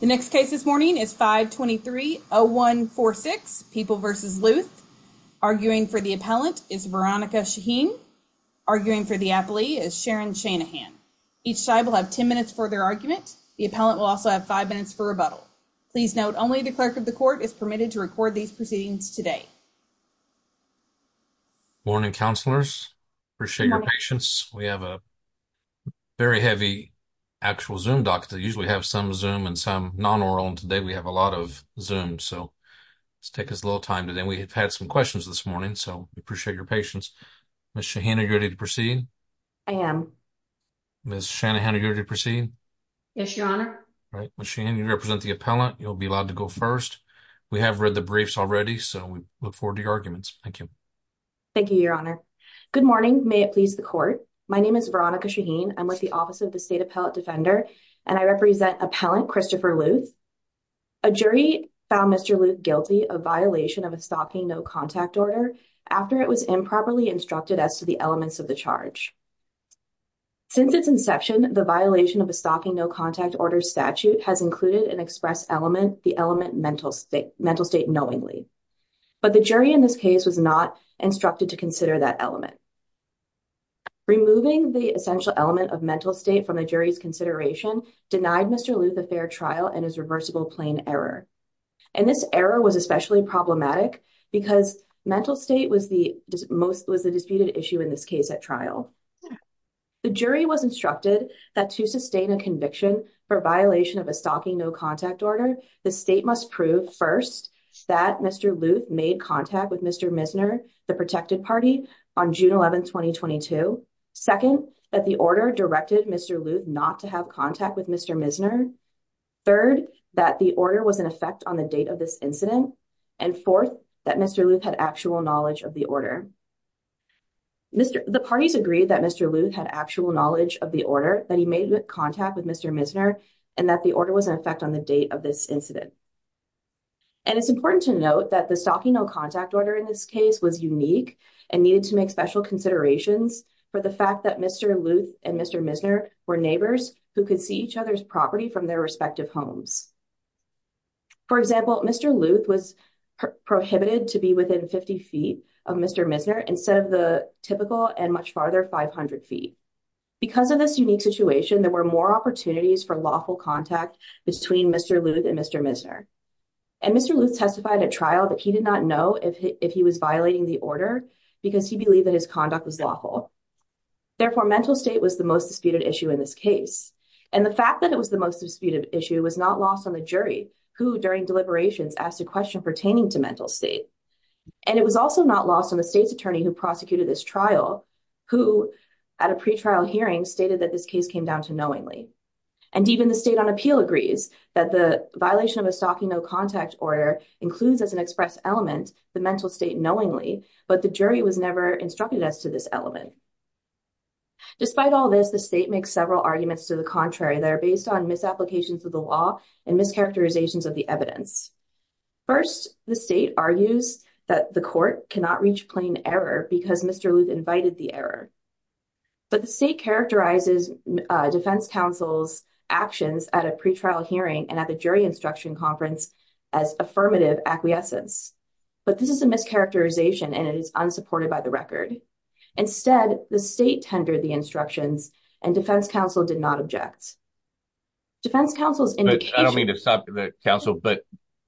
The next case this morning is 523-0146, People v. Luth. Arguing for the appellant is Veronica Shaheen. Arguing for the appellee is Sharon Shanahan. Each side will have 10 minutes for their argument. The appellant will also have five minutes for rebuttal. Please note only the clerk of the court is permitted to record these proceedings today. Morning, counselors. Appreciate your patience. We have a very heavy actual Zoom dock. They usually have some Zoom and some non-oral. Today we have a lot of Zoom, so let's take a little time. We have had some questions this morning, so we appreciate your patience. Ms. Shaheen, are you ready to proceed? I am. Ms. Shanahan, are you ready to proceed? Yes, your honor. Right. Ms. Shaheen, you represent the appellant. You'll be allowed to go first. We have read the briefs already, so we look forward to your arguments. Thank you. Thank you, your honor. Good morning. May it please the court. My name is Veronica Shaheen. I'm with the Office of the State Appellate Defender, and I represent Appellant Christopher Luth. A jury found Mr. Luth guilty of violation of a stalking no contact order after it was improperly instructed as to the elements of the charge. Since its inception, the violation of a stalking no contact order statute has included an express element, the element mental state, mental state knowingly, but the jury in this case was not instructed to consider that element. Removing the essential element of mental state from the jury's consideration denied Mr. Luth a fair trial and his reversible plain error. And this error was especially problematic because mental state was the disputed issue in this case at trial. The jury was instructed that to sustain a conviction for violation of a stalking no contact order, the state must prove first that Mr. Luth made contact with Mr. Misner, the protected party, on June 11, 2022. Second, that the order directed Mr. Luth not to have contact with Mr. Misner. Third, that the order was in effect on the date of this incident. And fourth, that Mr. Luth had actual knowledge of the order. The parties agreed that Mr. Luth had actual knowledge of the order, that he made contact with Mr. Misner, and that the order was in effect on the date of this incident. And it's important to note that the stalking no contact order in this case was unique and needed to make special considerations for the fact that Mr. Luth and Mr. Misner were neighbors who could see each other's property from their respective homes. For example, Mr. Luth was prohibited to be within 50 feet of Mr. Misner instead of the typical and much farther 500 feet. Because of this unique situation, there were more opportunities for lawful contact between Mr. Luth and Mr. Misner. And Mr. Luth testified at trial that he did not know if he was violating the order, because he believed that his conduct was lawful. Therefore, mental state was the most disputed issue in this case. And the fact that it was the most disputed issue was not lost on the jury, who during deliberations asked a question pertaining to mental state. And it was also not lost on the state's attorney who prosecuted this trial, who at a pretrial hearing stated that this case came down to knowingly. And even the state on appeal agrees that the violation of a stalking no contact order includes as an express element the mental state knowingly, but the jury was never instructed as to this element. Despite all this, the state makes several arguments to the contrary that are based on misapplications of the law and mischaracterizations of the evidence. First, the state argues that the court cannot reach plain error because Mr. Luth invited the error. But the state characterizes defense counsel's actions at a pretrial hearing and at the jury instruction conference as affirmative acquiescence. But this is a mischaracterization and it is unsupported by the record. Instead, the state tendered the instructions and defense counsel did not object. Defense counsel's indication... I don't mean to stop the counsel, but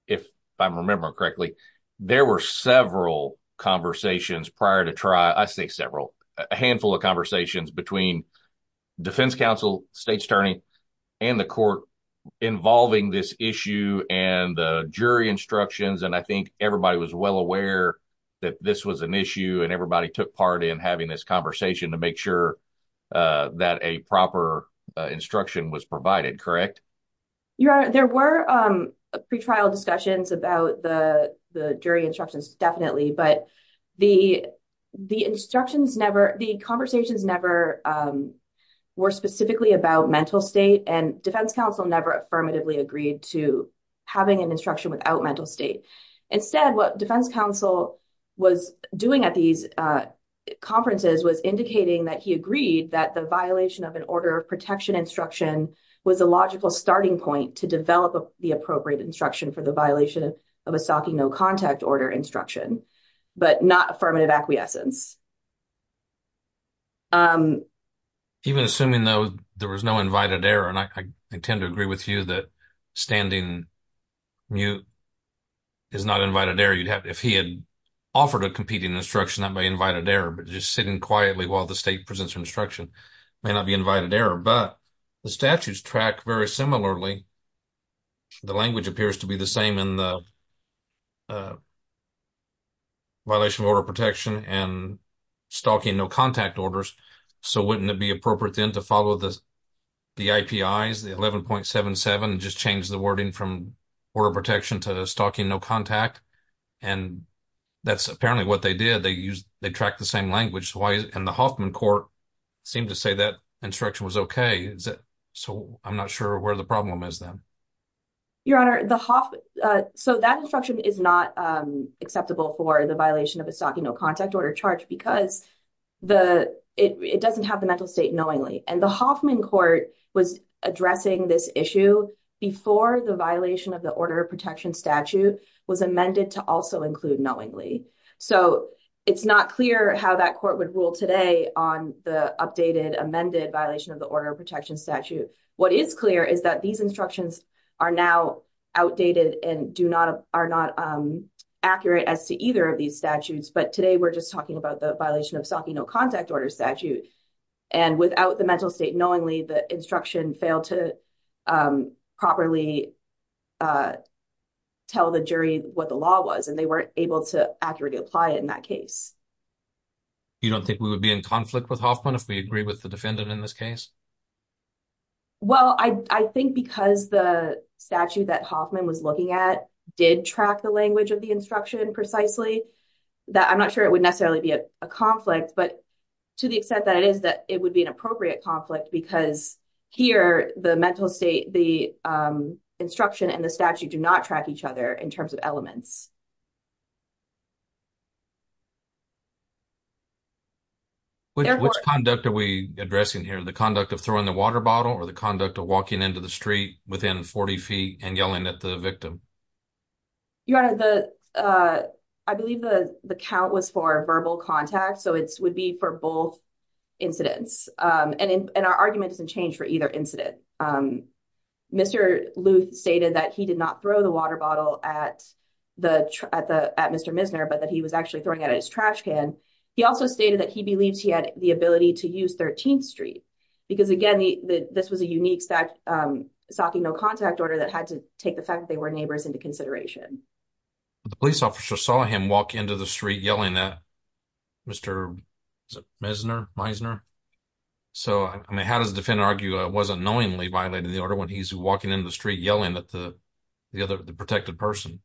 if I remember correctly, there were several conversations prior to trial, I say several, a handful of conversations between defense counsel, state's attorney, and the court involving this issue and the jury instructions and I think everybody was well aware that this was an issue and everybody took part in having this conversation to make sure that a proper instruction was provided, correct? Your honor, there were pretrial discussions about the jury instructions, definitely, but the instructions never, the conversations never were specifically about mental state and defense counsel never affirmatively agreed to having an instruction without mental state. Instead, what defense counsel was doing at these conferences was indicating that he agreed that the violation of an order of protection instruction was a logical starting point to develop the appropriate instruction for the violation of a stocking no contact order instruction, but not affirmative acquiescence. Even assuming, though, there was no invited error and I intend to agree with you that standing mute is not invited error, you'd have, if he had offered a competing instruction, that may be invited error, but just sitting quietly while the state presents instruction may not be invited error, but the statutes track very similarly. The language appears to be the same in the violation of order of protection and stocking no contact orders, so wouldn't it be appropriate then to follow the the IPIs, the 11.77, just change the wording from order of protection to the stocking no contact and that's apparently what they did. They used, they tracked the same language. And the Hoffman court seemed to say that instruction was okay. So I'm not sure where the problem is then. Your honor, the Hoffman, so that instruction is not acceptable for the violation of a stocking no contact order charge because it doesn't have the mental state knowingly and the Hoffman court was addressing this issue before the violation of the order of protection statute was amended to also include knowingly. So it's not clear how that court would rule today on the updated amended violation of the order of protection statute. What is clear is that these instructions are now outdated and do not, are not accurate as to either of these statutes, but today we're just talking about the violation of stocking no contact order statute and without the mental state knowingly the instruction failed to properly tell the jury what the law was and they weren't able to accurately apply it in that case. You don't think we would be in conflict with Hoffman if we agree with the defendant in this case? Well, I think because the statute that Hoffman was looking at did track the language of the instruction precisely that I'm not sure it would necessarily be a conflict, but to the extent that it is that it would be an appropriate conflict because here the mental state, the instruction and the statute do not track each other in terms of elements. Which conduct are we addressing here? The conduct of throwing the water bottle or the conduct of walking into the street within 40 feet and yelling at the victim? Your honor, I believe the the count was for verbal contact so it would be for both incidents and our argument doesn't change for either incident. Mr. Luth stated that he did not throw the water bottle at Mr. Misner but that he was actually throwing it at his trash can. He also stated that he believes he had the ability to use 13th street because again this was a unique stalking no contact order that had to take the fact they were neighbors into consideration. The police officer saw him walk into the street yelling at Mr. Misner. So I mean how does the defendant argue I wasn't knowingly violating the order when he's walking into the street yelling at the the other the protected person?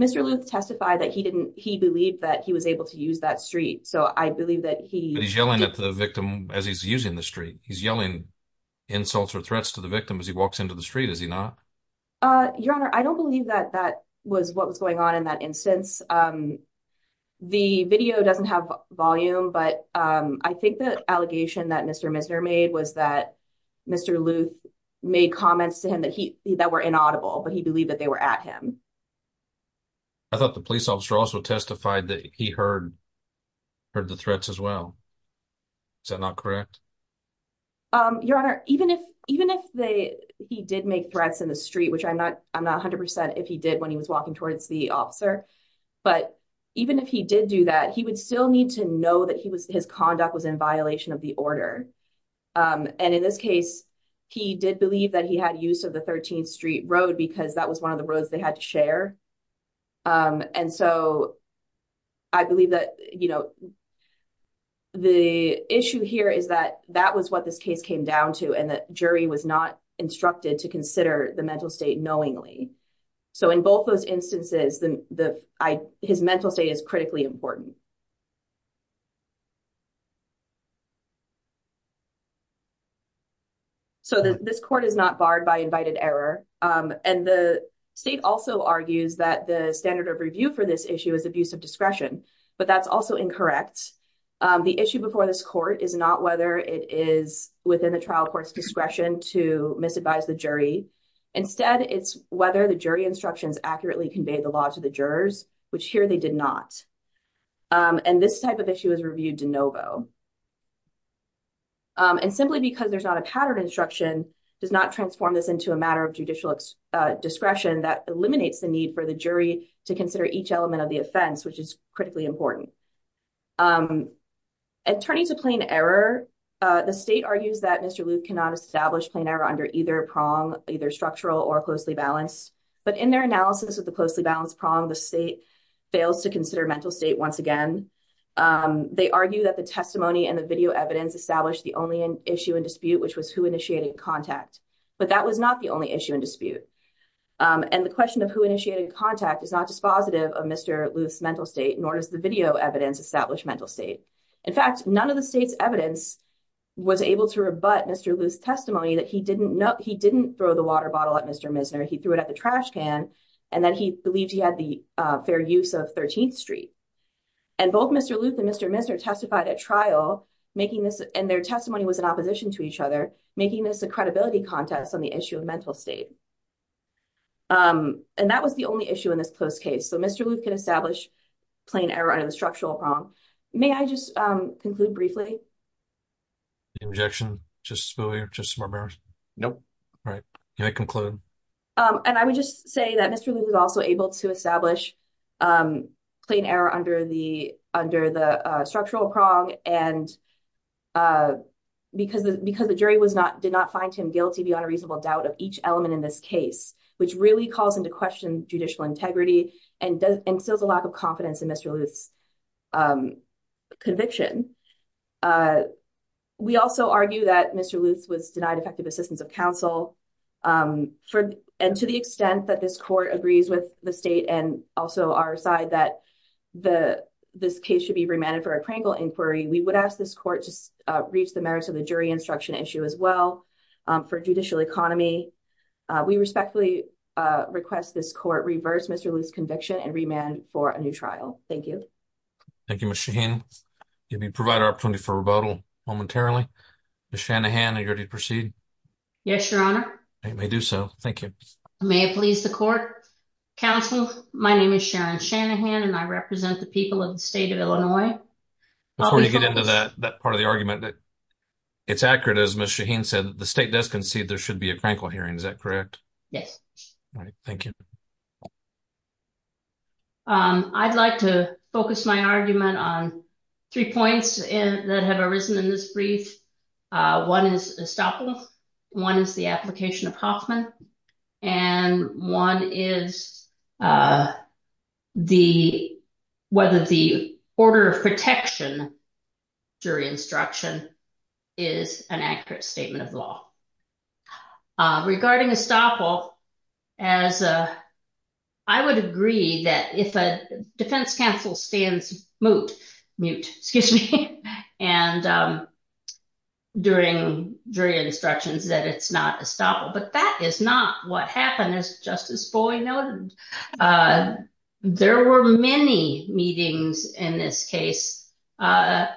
Mr. Luth testified that he didn't believe that he was able to use that street so I believe that he's yelling at the victim as he's using the street. He's yelling insults or threats to the victim as he walks into the street is he not? Your honor, I don't believe that that was what was going on in that instance. The video doesn't have volume but I think the allegation that Mr. Misner made was that Mr. Luth made comments to him that he that were inaudible but he believed that they were at him. I thought the police officer also testified that he heard heard the threats as well. Is that not correct? Your honor, even if even if they he did make threats in the street which I'm not I'm not 100% if he did when he was walking towards the officer but even if he did do that he would still need to know that he was his conduct was in violation of the order and in this case he did believe that he had use of the 13th street road because that was one of the roads they had to share and so I believe that you know the issue here is that that was what this case came down to and that jury was not instructed to consider the mental state knowingly. So in both those instances then the I his mental state is critically important. So this court is not barred by invited error and the state also argues that the standard of review for this issue is abuse of discretion but that's also incorrect. The issue before this court is not whether it is within the trial court's discretion to misadvise the jury instead it's whether the jury instructions accurately convey the law to the jurors which here they did not and this type of issue is reviewed de novo and simply because there's not a pattern instruction does not transform this into a matter of discretion that eliminates the need for the jury to consider each element of the offense which is critically important. And turning to plain error the state argues that Mr. Luke cannot establish plain error under either prong either structural or closely balanced but in their analysis of the closely balanced prong the state fails to consider mental state once again. They argue that the testimony and the video evidence established the only issue in dispute which was who initiated contact but that was not the only issue in dispute and the question of who initiated contact is not dispositive of Mr. Luth's mental state nor does the video evidence establish mental state. In fact none of the state's evidence was able to rebut Mr. Luth's testimony that he didn't know he didn't throw the water bottle at Mr. Misner he threw it at the trash can and then he believed he had the fair use of 13th street and both Mr. Luth and Mr. Misner testified at trial making this and their testimony was in opposition to each other making this a claim. And that was the only issue in this close case so Mr. Luth can establish plain error under the structural prong. May I just conclude briefly? The objection just spooly or just barbaric? Nope. All right can I conclude? And I would just say that Mr. Luth was also able to establish plain error under the under the structural prong and because the jury was not did not find him guilty beyond a case which really calls into question judicial integrity and instills a lack of confidence in Mr. Luth's conviction. We also argue that Mr. Luth was denied effective assistance of counsel and to the extent that this court agrees with the state and also our side that the this case should be remanded for a Krangel inquiry we would ask this court to reach the merits of the jury instruction issue as well for judicial economy. We respectfully request this court reverse Mr. Luth's conviction and remand for a new trial. Thank you. Thank you Ms. Shaheen. Give me provide our opportunity for rebuttal momentarily. Ms. Shanahan are you ready to proceed? Yes your honor. I may do so. Thank you. May it please the court counsel my name is Sharon Shanahan and I represent the people of the state of Illinois. Before you get into that that part of the argument that it's accurate as Ms. Shaheen said the state does concede there should be a Krankel hearing is that correct? Yes. All right thank you. I'd like to focus my argument on three points that have arisen in this brief. One is estoppel, one is the application of Hoffman and one is the whether the order of protection jury instruction is an accurate statement of law. Regarding estoppel as a I would agree that if a defense counsel stands mute excuse me and during jury instructions that it's not estoppel but that is not what happened as justice noted. There were many meetings in this case on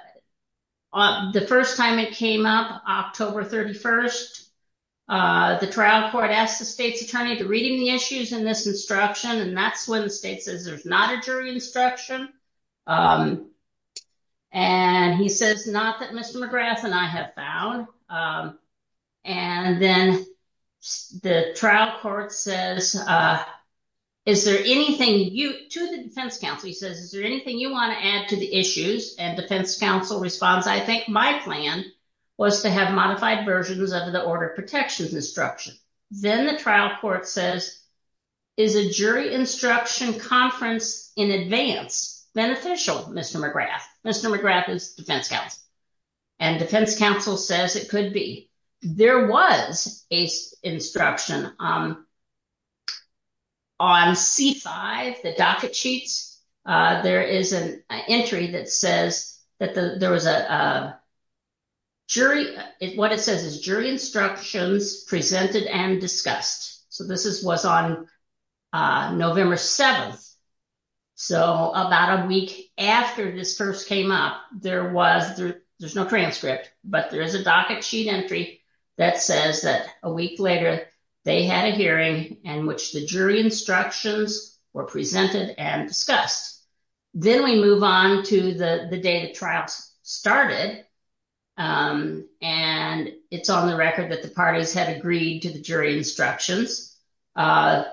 the first time it came up October 31st the trial court asked the state's attorney to read in the issues in this instruction and that's when the state says there's not a jury instruction and he says not that Mr. McGrath and I have found and then the trial court says is there anything you to the defense counsel he says is there anything you want to add to the issues and defense counsel responds I think my plan was to have modified versions of the order of protection instruction. Then the trial court says is a jury instruction conference in advance beneficial Mr. McGrath. Mr. McGrath is defense counsel and defense counsel says it could be there was a instruction on c5 the docket sheets there is an entry that says that the there was a jury what it says is jury instructions presented and discussed so this is was on November 7th so about a week after this first came up there was there's no transcript but there is a docket sheet entry that says that a week later they had a hearing in which the jury instructions were presented and discussed. Then we move on to the the day the trials started and it's on the record that the parties had agreed to the jury instructions uh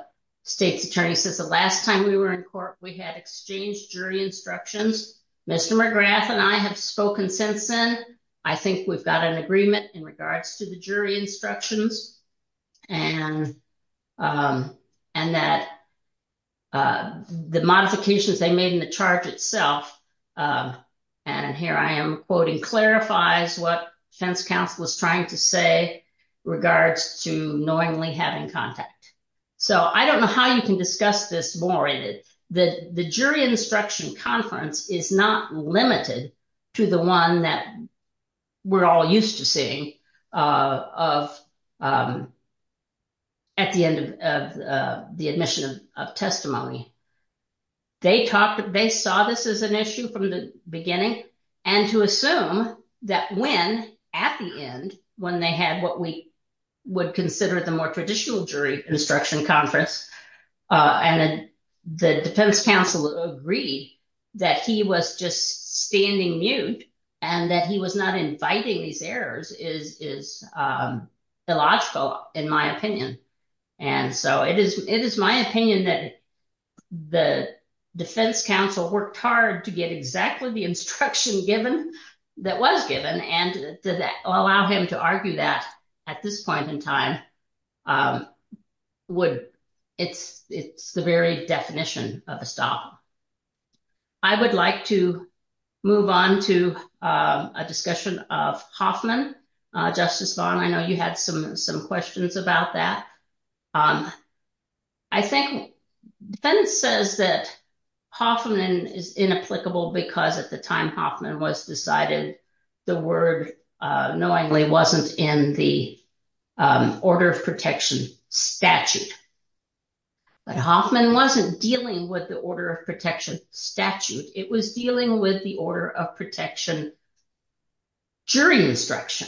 state's attorney says the last time we were in court we had exchanged jury instructions Mr. McGrath and I have spoken since then I think we've got an agreement in regards to the jury instructions and um and that uh the modifications they made in the charge itself and here I am quoting clarifies what defense counsel was trying to say regards to knowingly having contact so I don't know how you can discuss this more in it the jury instruction conference is not limited to the one that we're all used to seeing uh of um at the end of uh the admission of testimony they talked they saw this as an issue from the beginning and to assume that when at the end when they had what we would consider the more traditional jury instruction conference uh and the defense counsel agreed that he was just standing mute and that he was not inviting these errors is is um illogical in my opinion and so it is it is my opinion that the defense counsel worked hard to get exactly the instruction given that was given and did that allow him to argue that at this point in time um would it's it's the very definition of estoppel I would like to move on to um a discussion of Hoffman uh Justice Long I know you had some some questions about that um I think defense says that Hoffman is inapplicable because at the time Hoffman was decided the word uh knowingly wasn't in the um order of protection statute but Hoffman wasn't dealing with the order of protection statute it was dealing with the order of protection jury instruction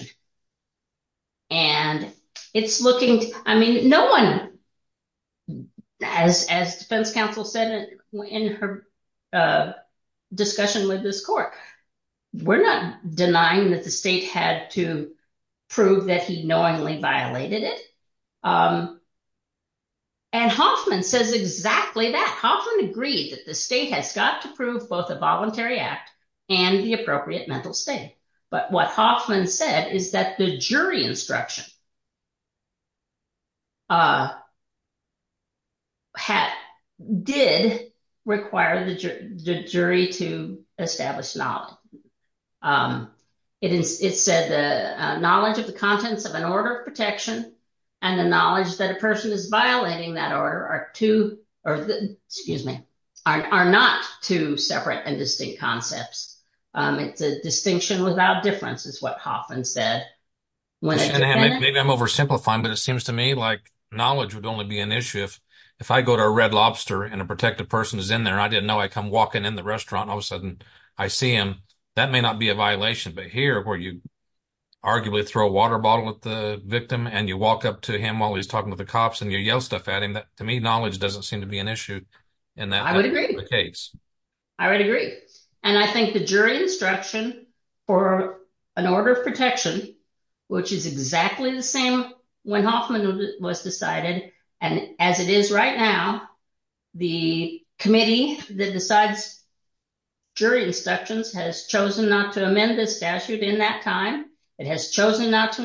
and it's looking I mean no one as as defense counsel said in her uh discussion with this court we're not denying that the state had to prove that he knowingly violated it um and Hoffman says exactly that Hoffman agreed that the state has got to prove both a voluntary act and the appropriate mental state but what Hoffman said is that the jury instruction uh had did require the jury to establish knowledge um it is it said the knowledge of the contents of an order of protection and the knowledge that a person is violating that order are two or excuse me are not two separate and distinct concepts um it's a distinction without difference is what Hoffman said maybe I'm oversimplifying but it seems to me like knowledge would only be an issue if if I go to a red lobster and a protective person is in there I didn't know I come walking in the restaurant all of a sudden I see him that may not be a violation but here where you arguably throw a water bottle at the victim and you walk up to him while he's talking to the cops and you yell stuff at him that to me knowledge doesn't seem to be an issue in that I would agree I would agree and I think the jury instruction for an order of protection which is exactly the same when Hoffman was decided and as it is right now the committee that decides jury instructions has chosen not to amend the statute in that time it has chosen not to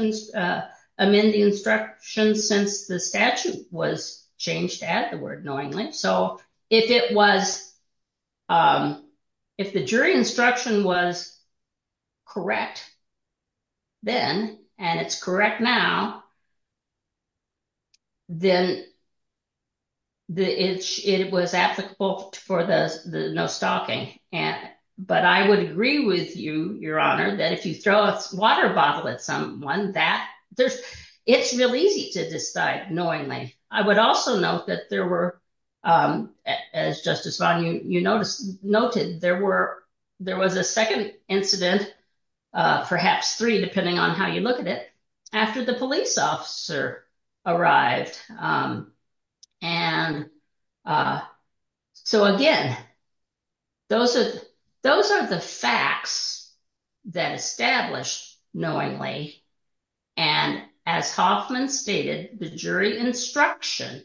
amend the instruction since the statute was changed at the word knowingly so if it was um if the jury instruction was correct then and it's correct now then the itch it was applicable for the no stalking and but I would agree with you your honor that if you throw a water bottle at someone that there's it's real easy to decide knowingly I would also note that there were um as Justice Vaughn you you noticed noted there were there was a second incident uh perhaps three depending on you look at it after the police officer arrived um and uh so again those are those are the facts that established knowingly and as Hoffman stated the jury instruction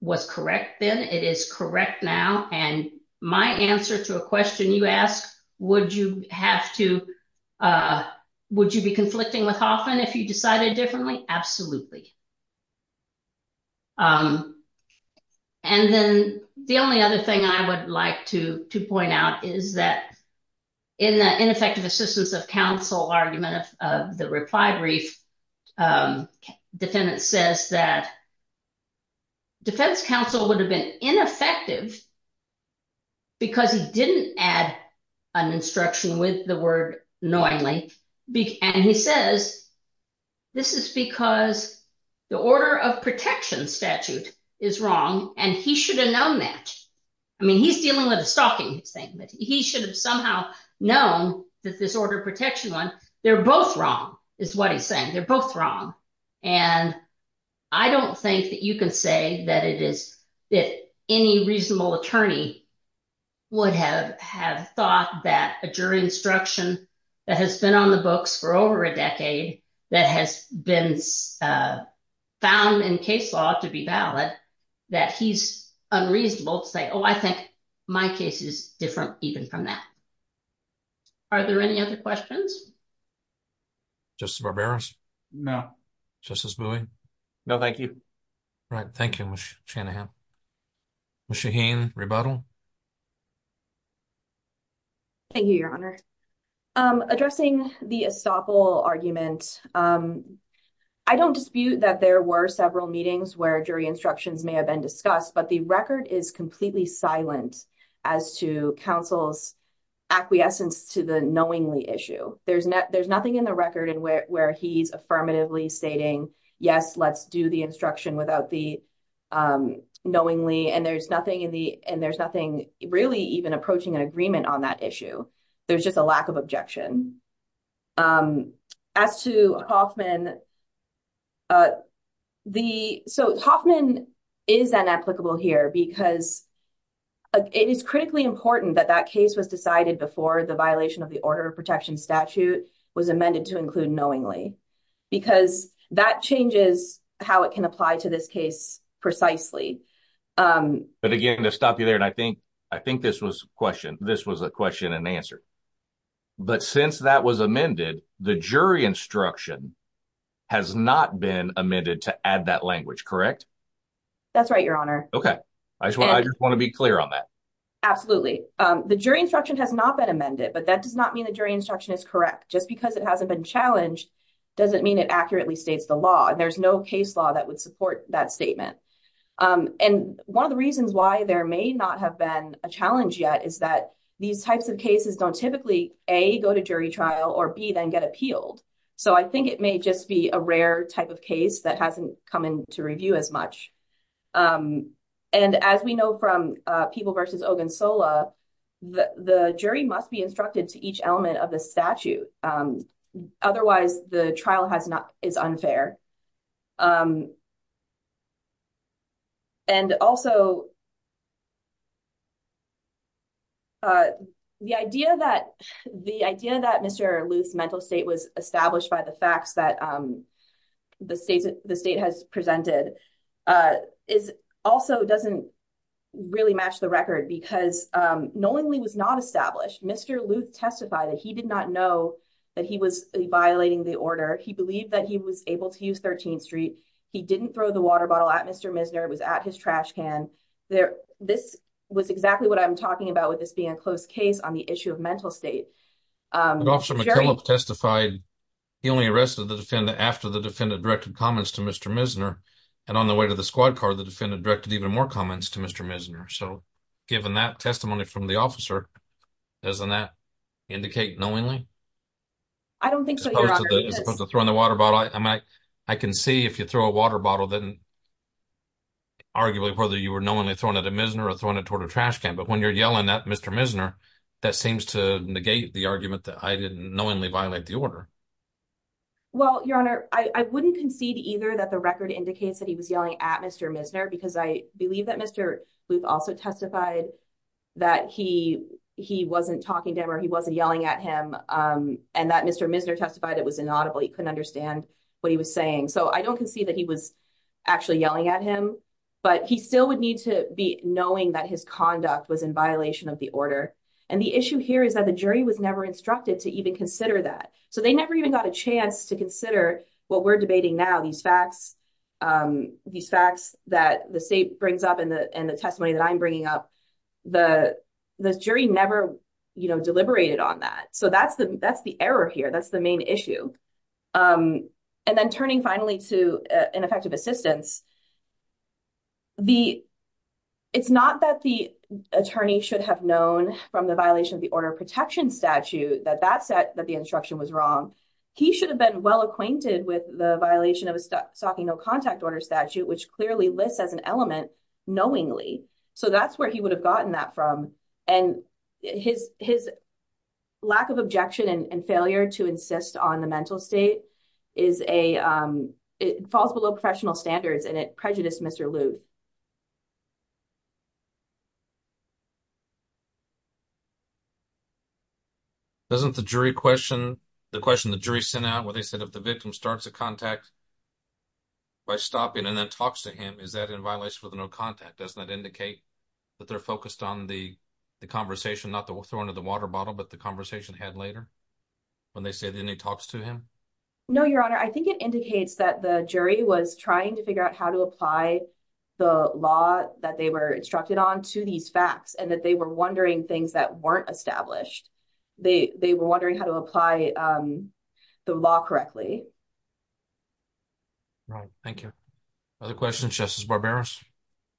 was correct then it is correct now and my answer to a question you ask would you have to uh would you be conflicting with Hoffman if you decided differently absolutely um and then the only other thing I would like to to point out is that in the ineffective assistance of counsel argument of the reply brief um defendant says that defense counsel would have been ineffective because he didn't add an instruction with the word knowingly and he says this is because the order of protection statute is wrong and he should have known that I mean he's dealing with a stalking thing but he should have somehow known that this order of protection one they're both wrong is what he's saying they're both wrong and I don't think that you can say that it is if any reasonable attorney would have have thought that a jury instruction that has been on the books for over a decade that has been found in case law to be valid that he's unreasonable to say oh I think my case is different even from that are there any other questions just barbarous no justice buoy no thank you right thank you shanahan shaheen rebuttal thank you your honor um addressing the estoppel argument um I don't dispute that there were several meetings where jury instructions may have been discussed but the record is completely silent as to counsel's acquiescence to the knowingly issue there's no there's nothing in the record where he's affirmatively stating yes let's do the instruction without the um knowingly and there's nothing in the and there's nothing really even approaching an agreement on that issue there's just a lack of objection um as to hoffman uh the so hoffman is unapplicable here because it is critically important that that case was decided before the violation of the order of protection statute was amended to include knowingly because that changes how it can apply to this case precisely um but again to stop you there and I think I think this was a question this was a question and answer but since that was amended the jury instruction has not been amended to add that language correct that's right your honor okay I just want to be clear on that absolutely um the jury instruction has not been amended but that does not mean the jury instruction is correct just because it hasn't been challenged doesn't mean it accurately states the law and there's no case law that would support that statement um and one of the reasons why there may not have been a challenge yet is that these types of cases don't typically a go to jury trial or b then get appealed so I think it may just be a rare type of case that hasn't come in to review as much um and as we know from uh people versus Ogunsola the the jury must be instructed to each element of the statute um otherwise the trial has not is unfair um and also uh the idea that the idea that Mr. Luth's mental state was established by the facts that um the states the state has presented uh is also doesn't really match the record because um knowingly was not established Mr. Luth testified that he did not know that he was violating the order he believed that he was able to use 13th street he didn't throw the water bottle at Mr. Misner it was at his trash can there this was exactly what I'm talking about with this being a close case on the issue of mental state um officer McKellips testified he only arrested the defendant after the defendant directed comments to Mr. Misner and on the way to the squad car the defendant directed even more comments to Mr. Misner so given that testimony from the officer doesn't that indicate knowingly I don't think so as opposed to throwing the water bottle I mean I can see if you throw a water bottle then arguably whether you were knowingly throwing it at Misner or throwing it toward a trash can but when you're yelling at Mr. Misner that seems to negate the argument that I didn't knowingly violate the order well your honor I wouldn't concede either that the record indicates that he was yelling at Mr. Misner because I believe that Mr. Luth also testified that he he wasn't talking to him or he wasn't yelling at him um and that Mr. Misner testified it was inaudible he couldn't understand what he was saying so I don't concede that he was actually yelling at him but he still would need to be knowing that his conduct was in violation of the order and the issue here is that the jury was never instructed to even consider that so they never even got a chance to consider what we're debating now these facts um these facts that the state brings up in the in the testimony that I'm bringing up the the jury never you know deliberated on that so that's the that's the error here that's the main issue um and then turning finally to ineffective assistance the it's not that the attorney should have known from the violation of the order of protection statute that that said that the instruction was wrong he should have been well acquainted with the violation of a stalking no contact order statute which clearly lists as an element knowingly so that's where he would have gotten that from and his his lack of objection and failure to insist on the mental state is a um it falls below professional standards and it prejudiced Mr. Lou doesn't the jury question the question the jury sent out where they said if the victim starts a contact by stopping and then talks to him is that in violation with no contact doesn't that indicate that they're focused on the the conversation not that we'll throw into the water bottle but the conversation had later when they said then he talks to him no your honor i think it indicates that the jury was trying to figure out how to apply the law that they were instructed on to these facts and that they were wondering things that weren't established they they were wondering how to apply um the law correctly right thank you other questions justice barbarous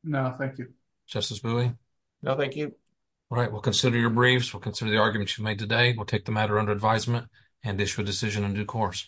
no thank you justice buoy no thank you all right we'll consider your briefs consider the arguments you've made today we'll take the matter under advisement and issue a decision in due course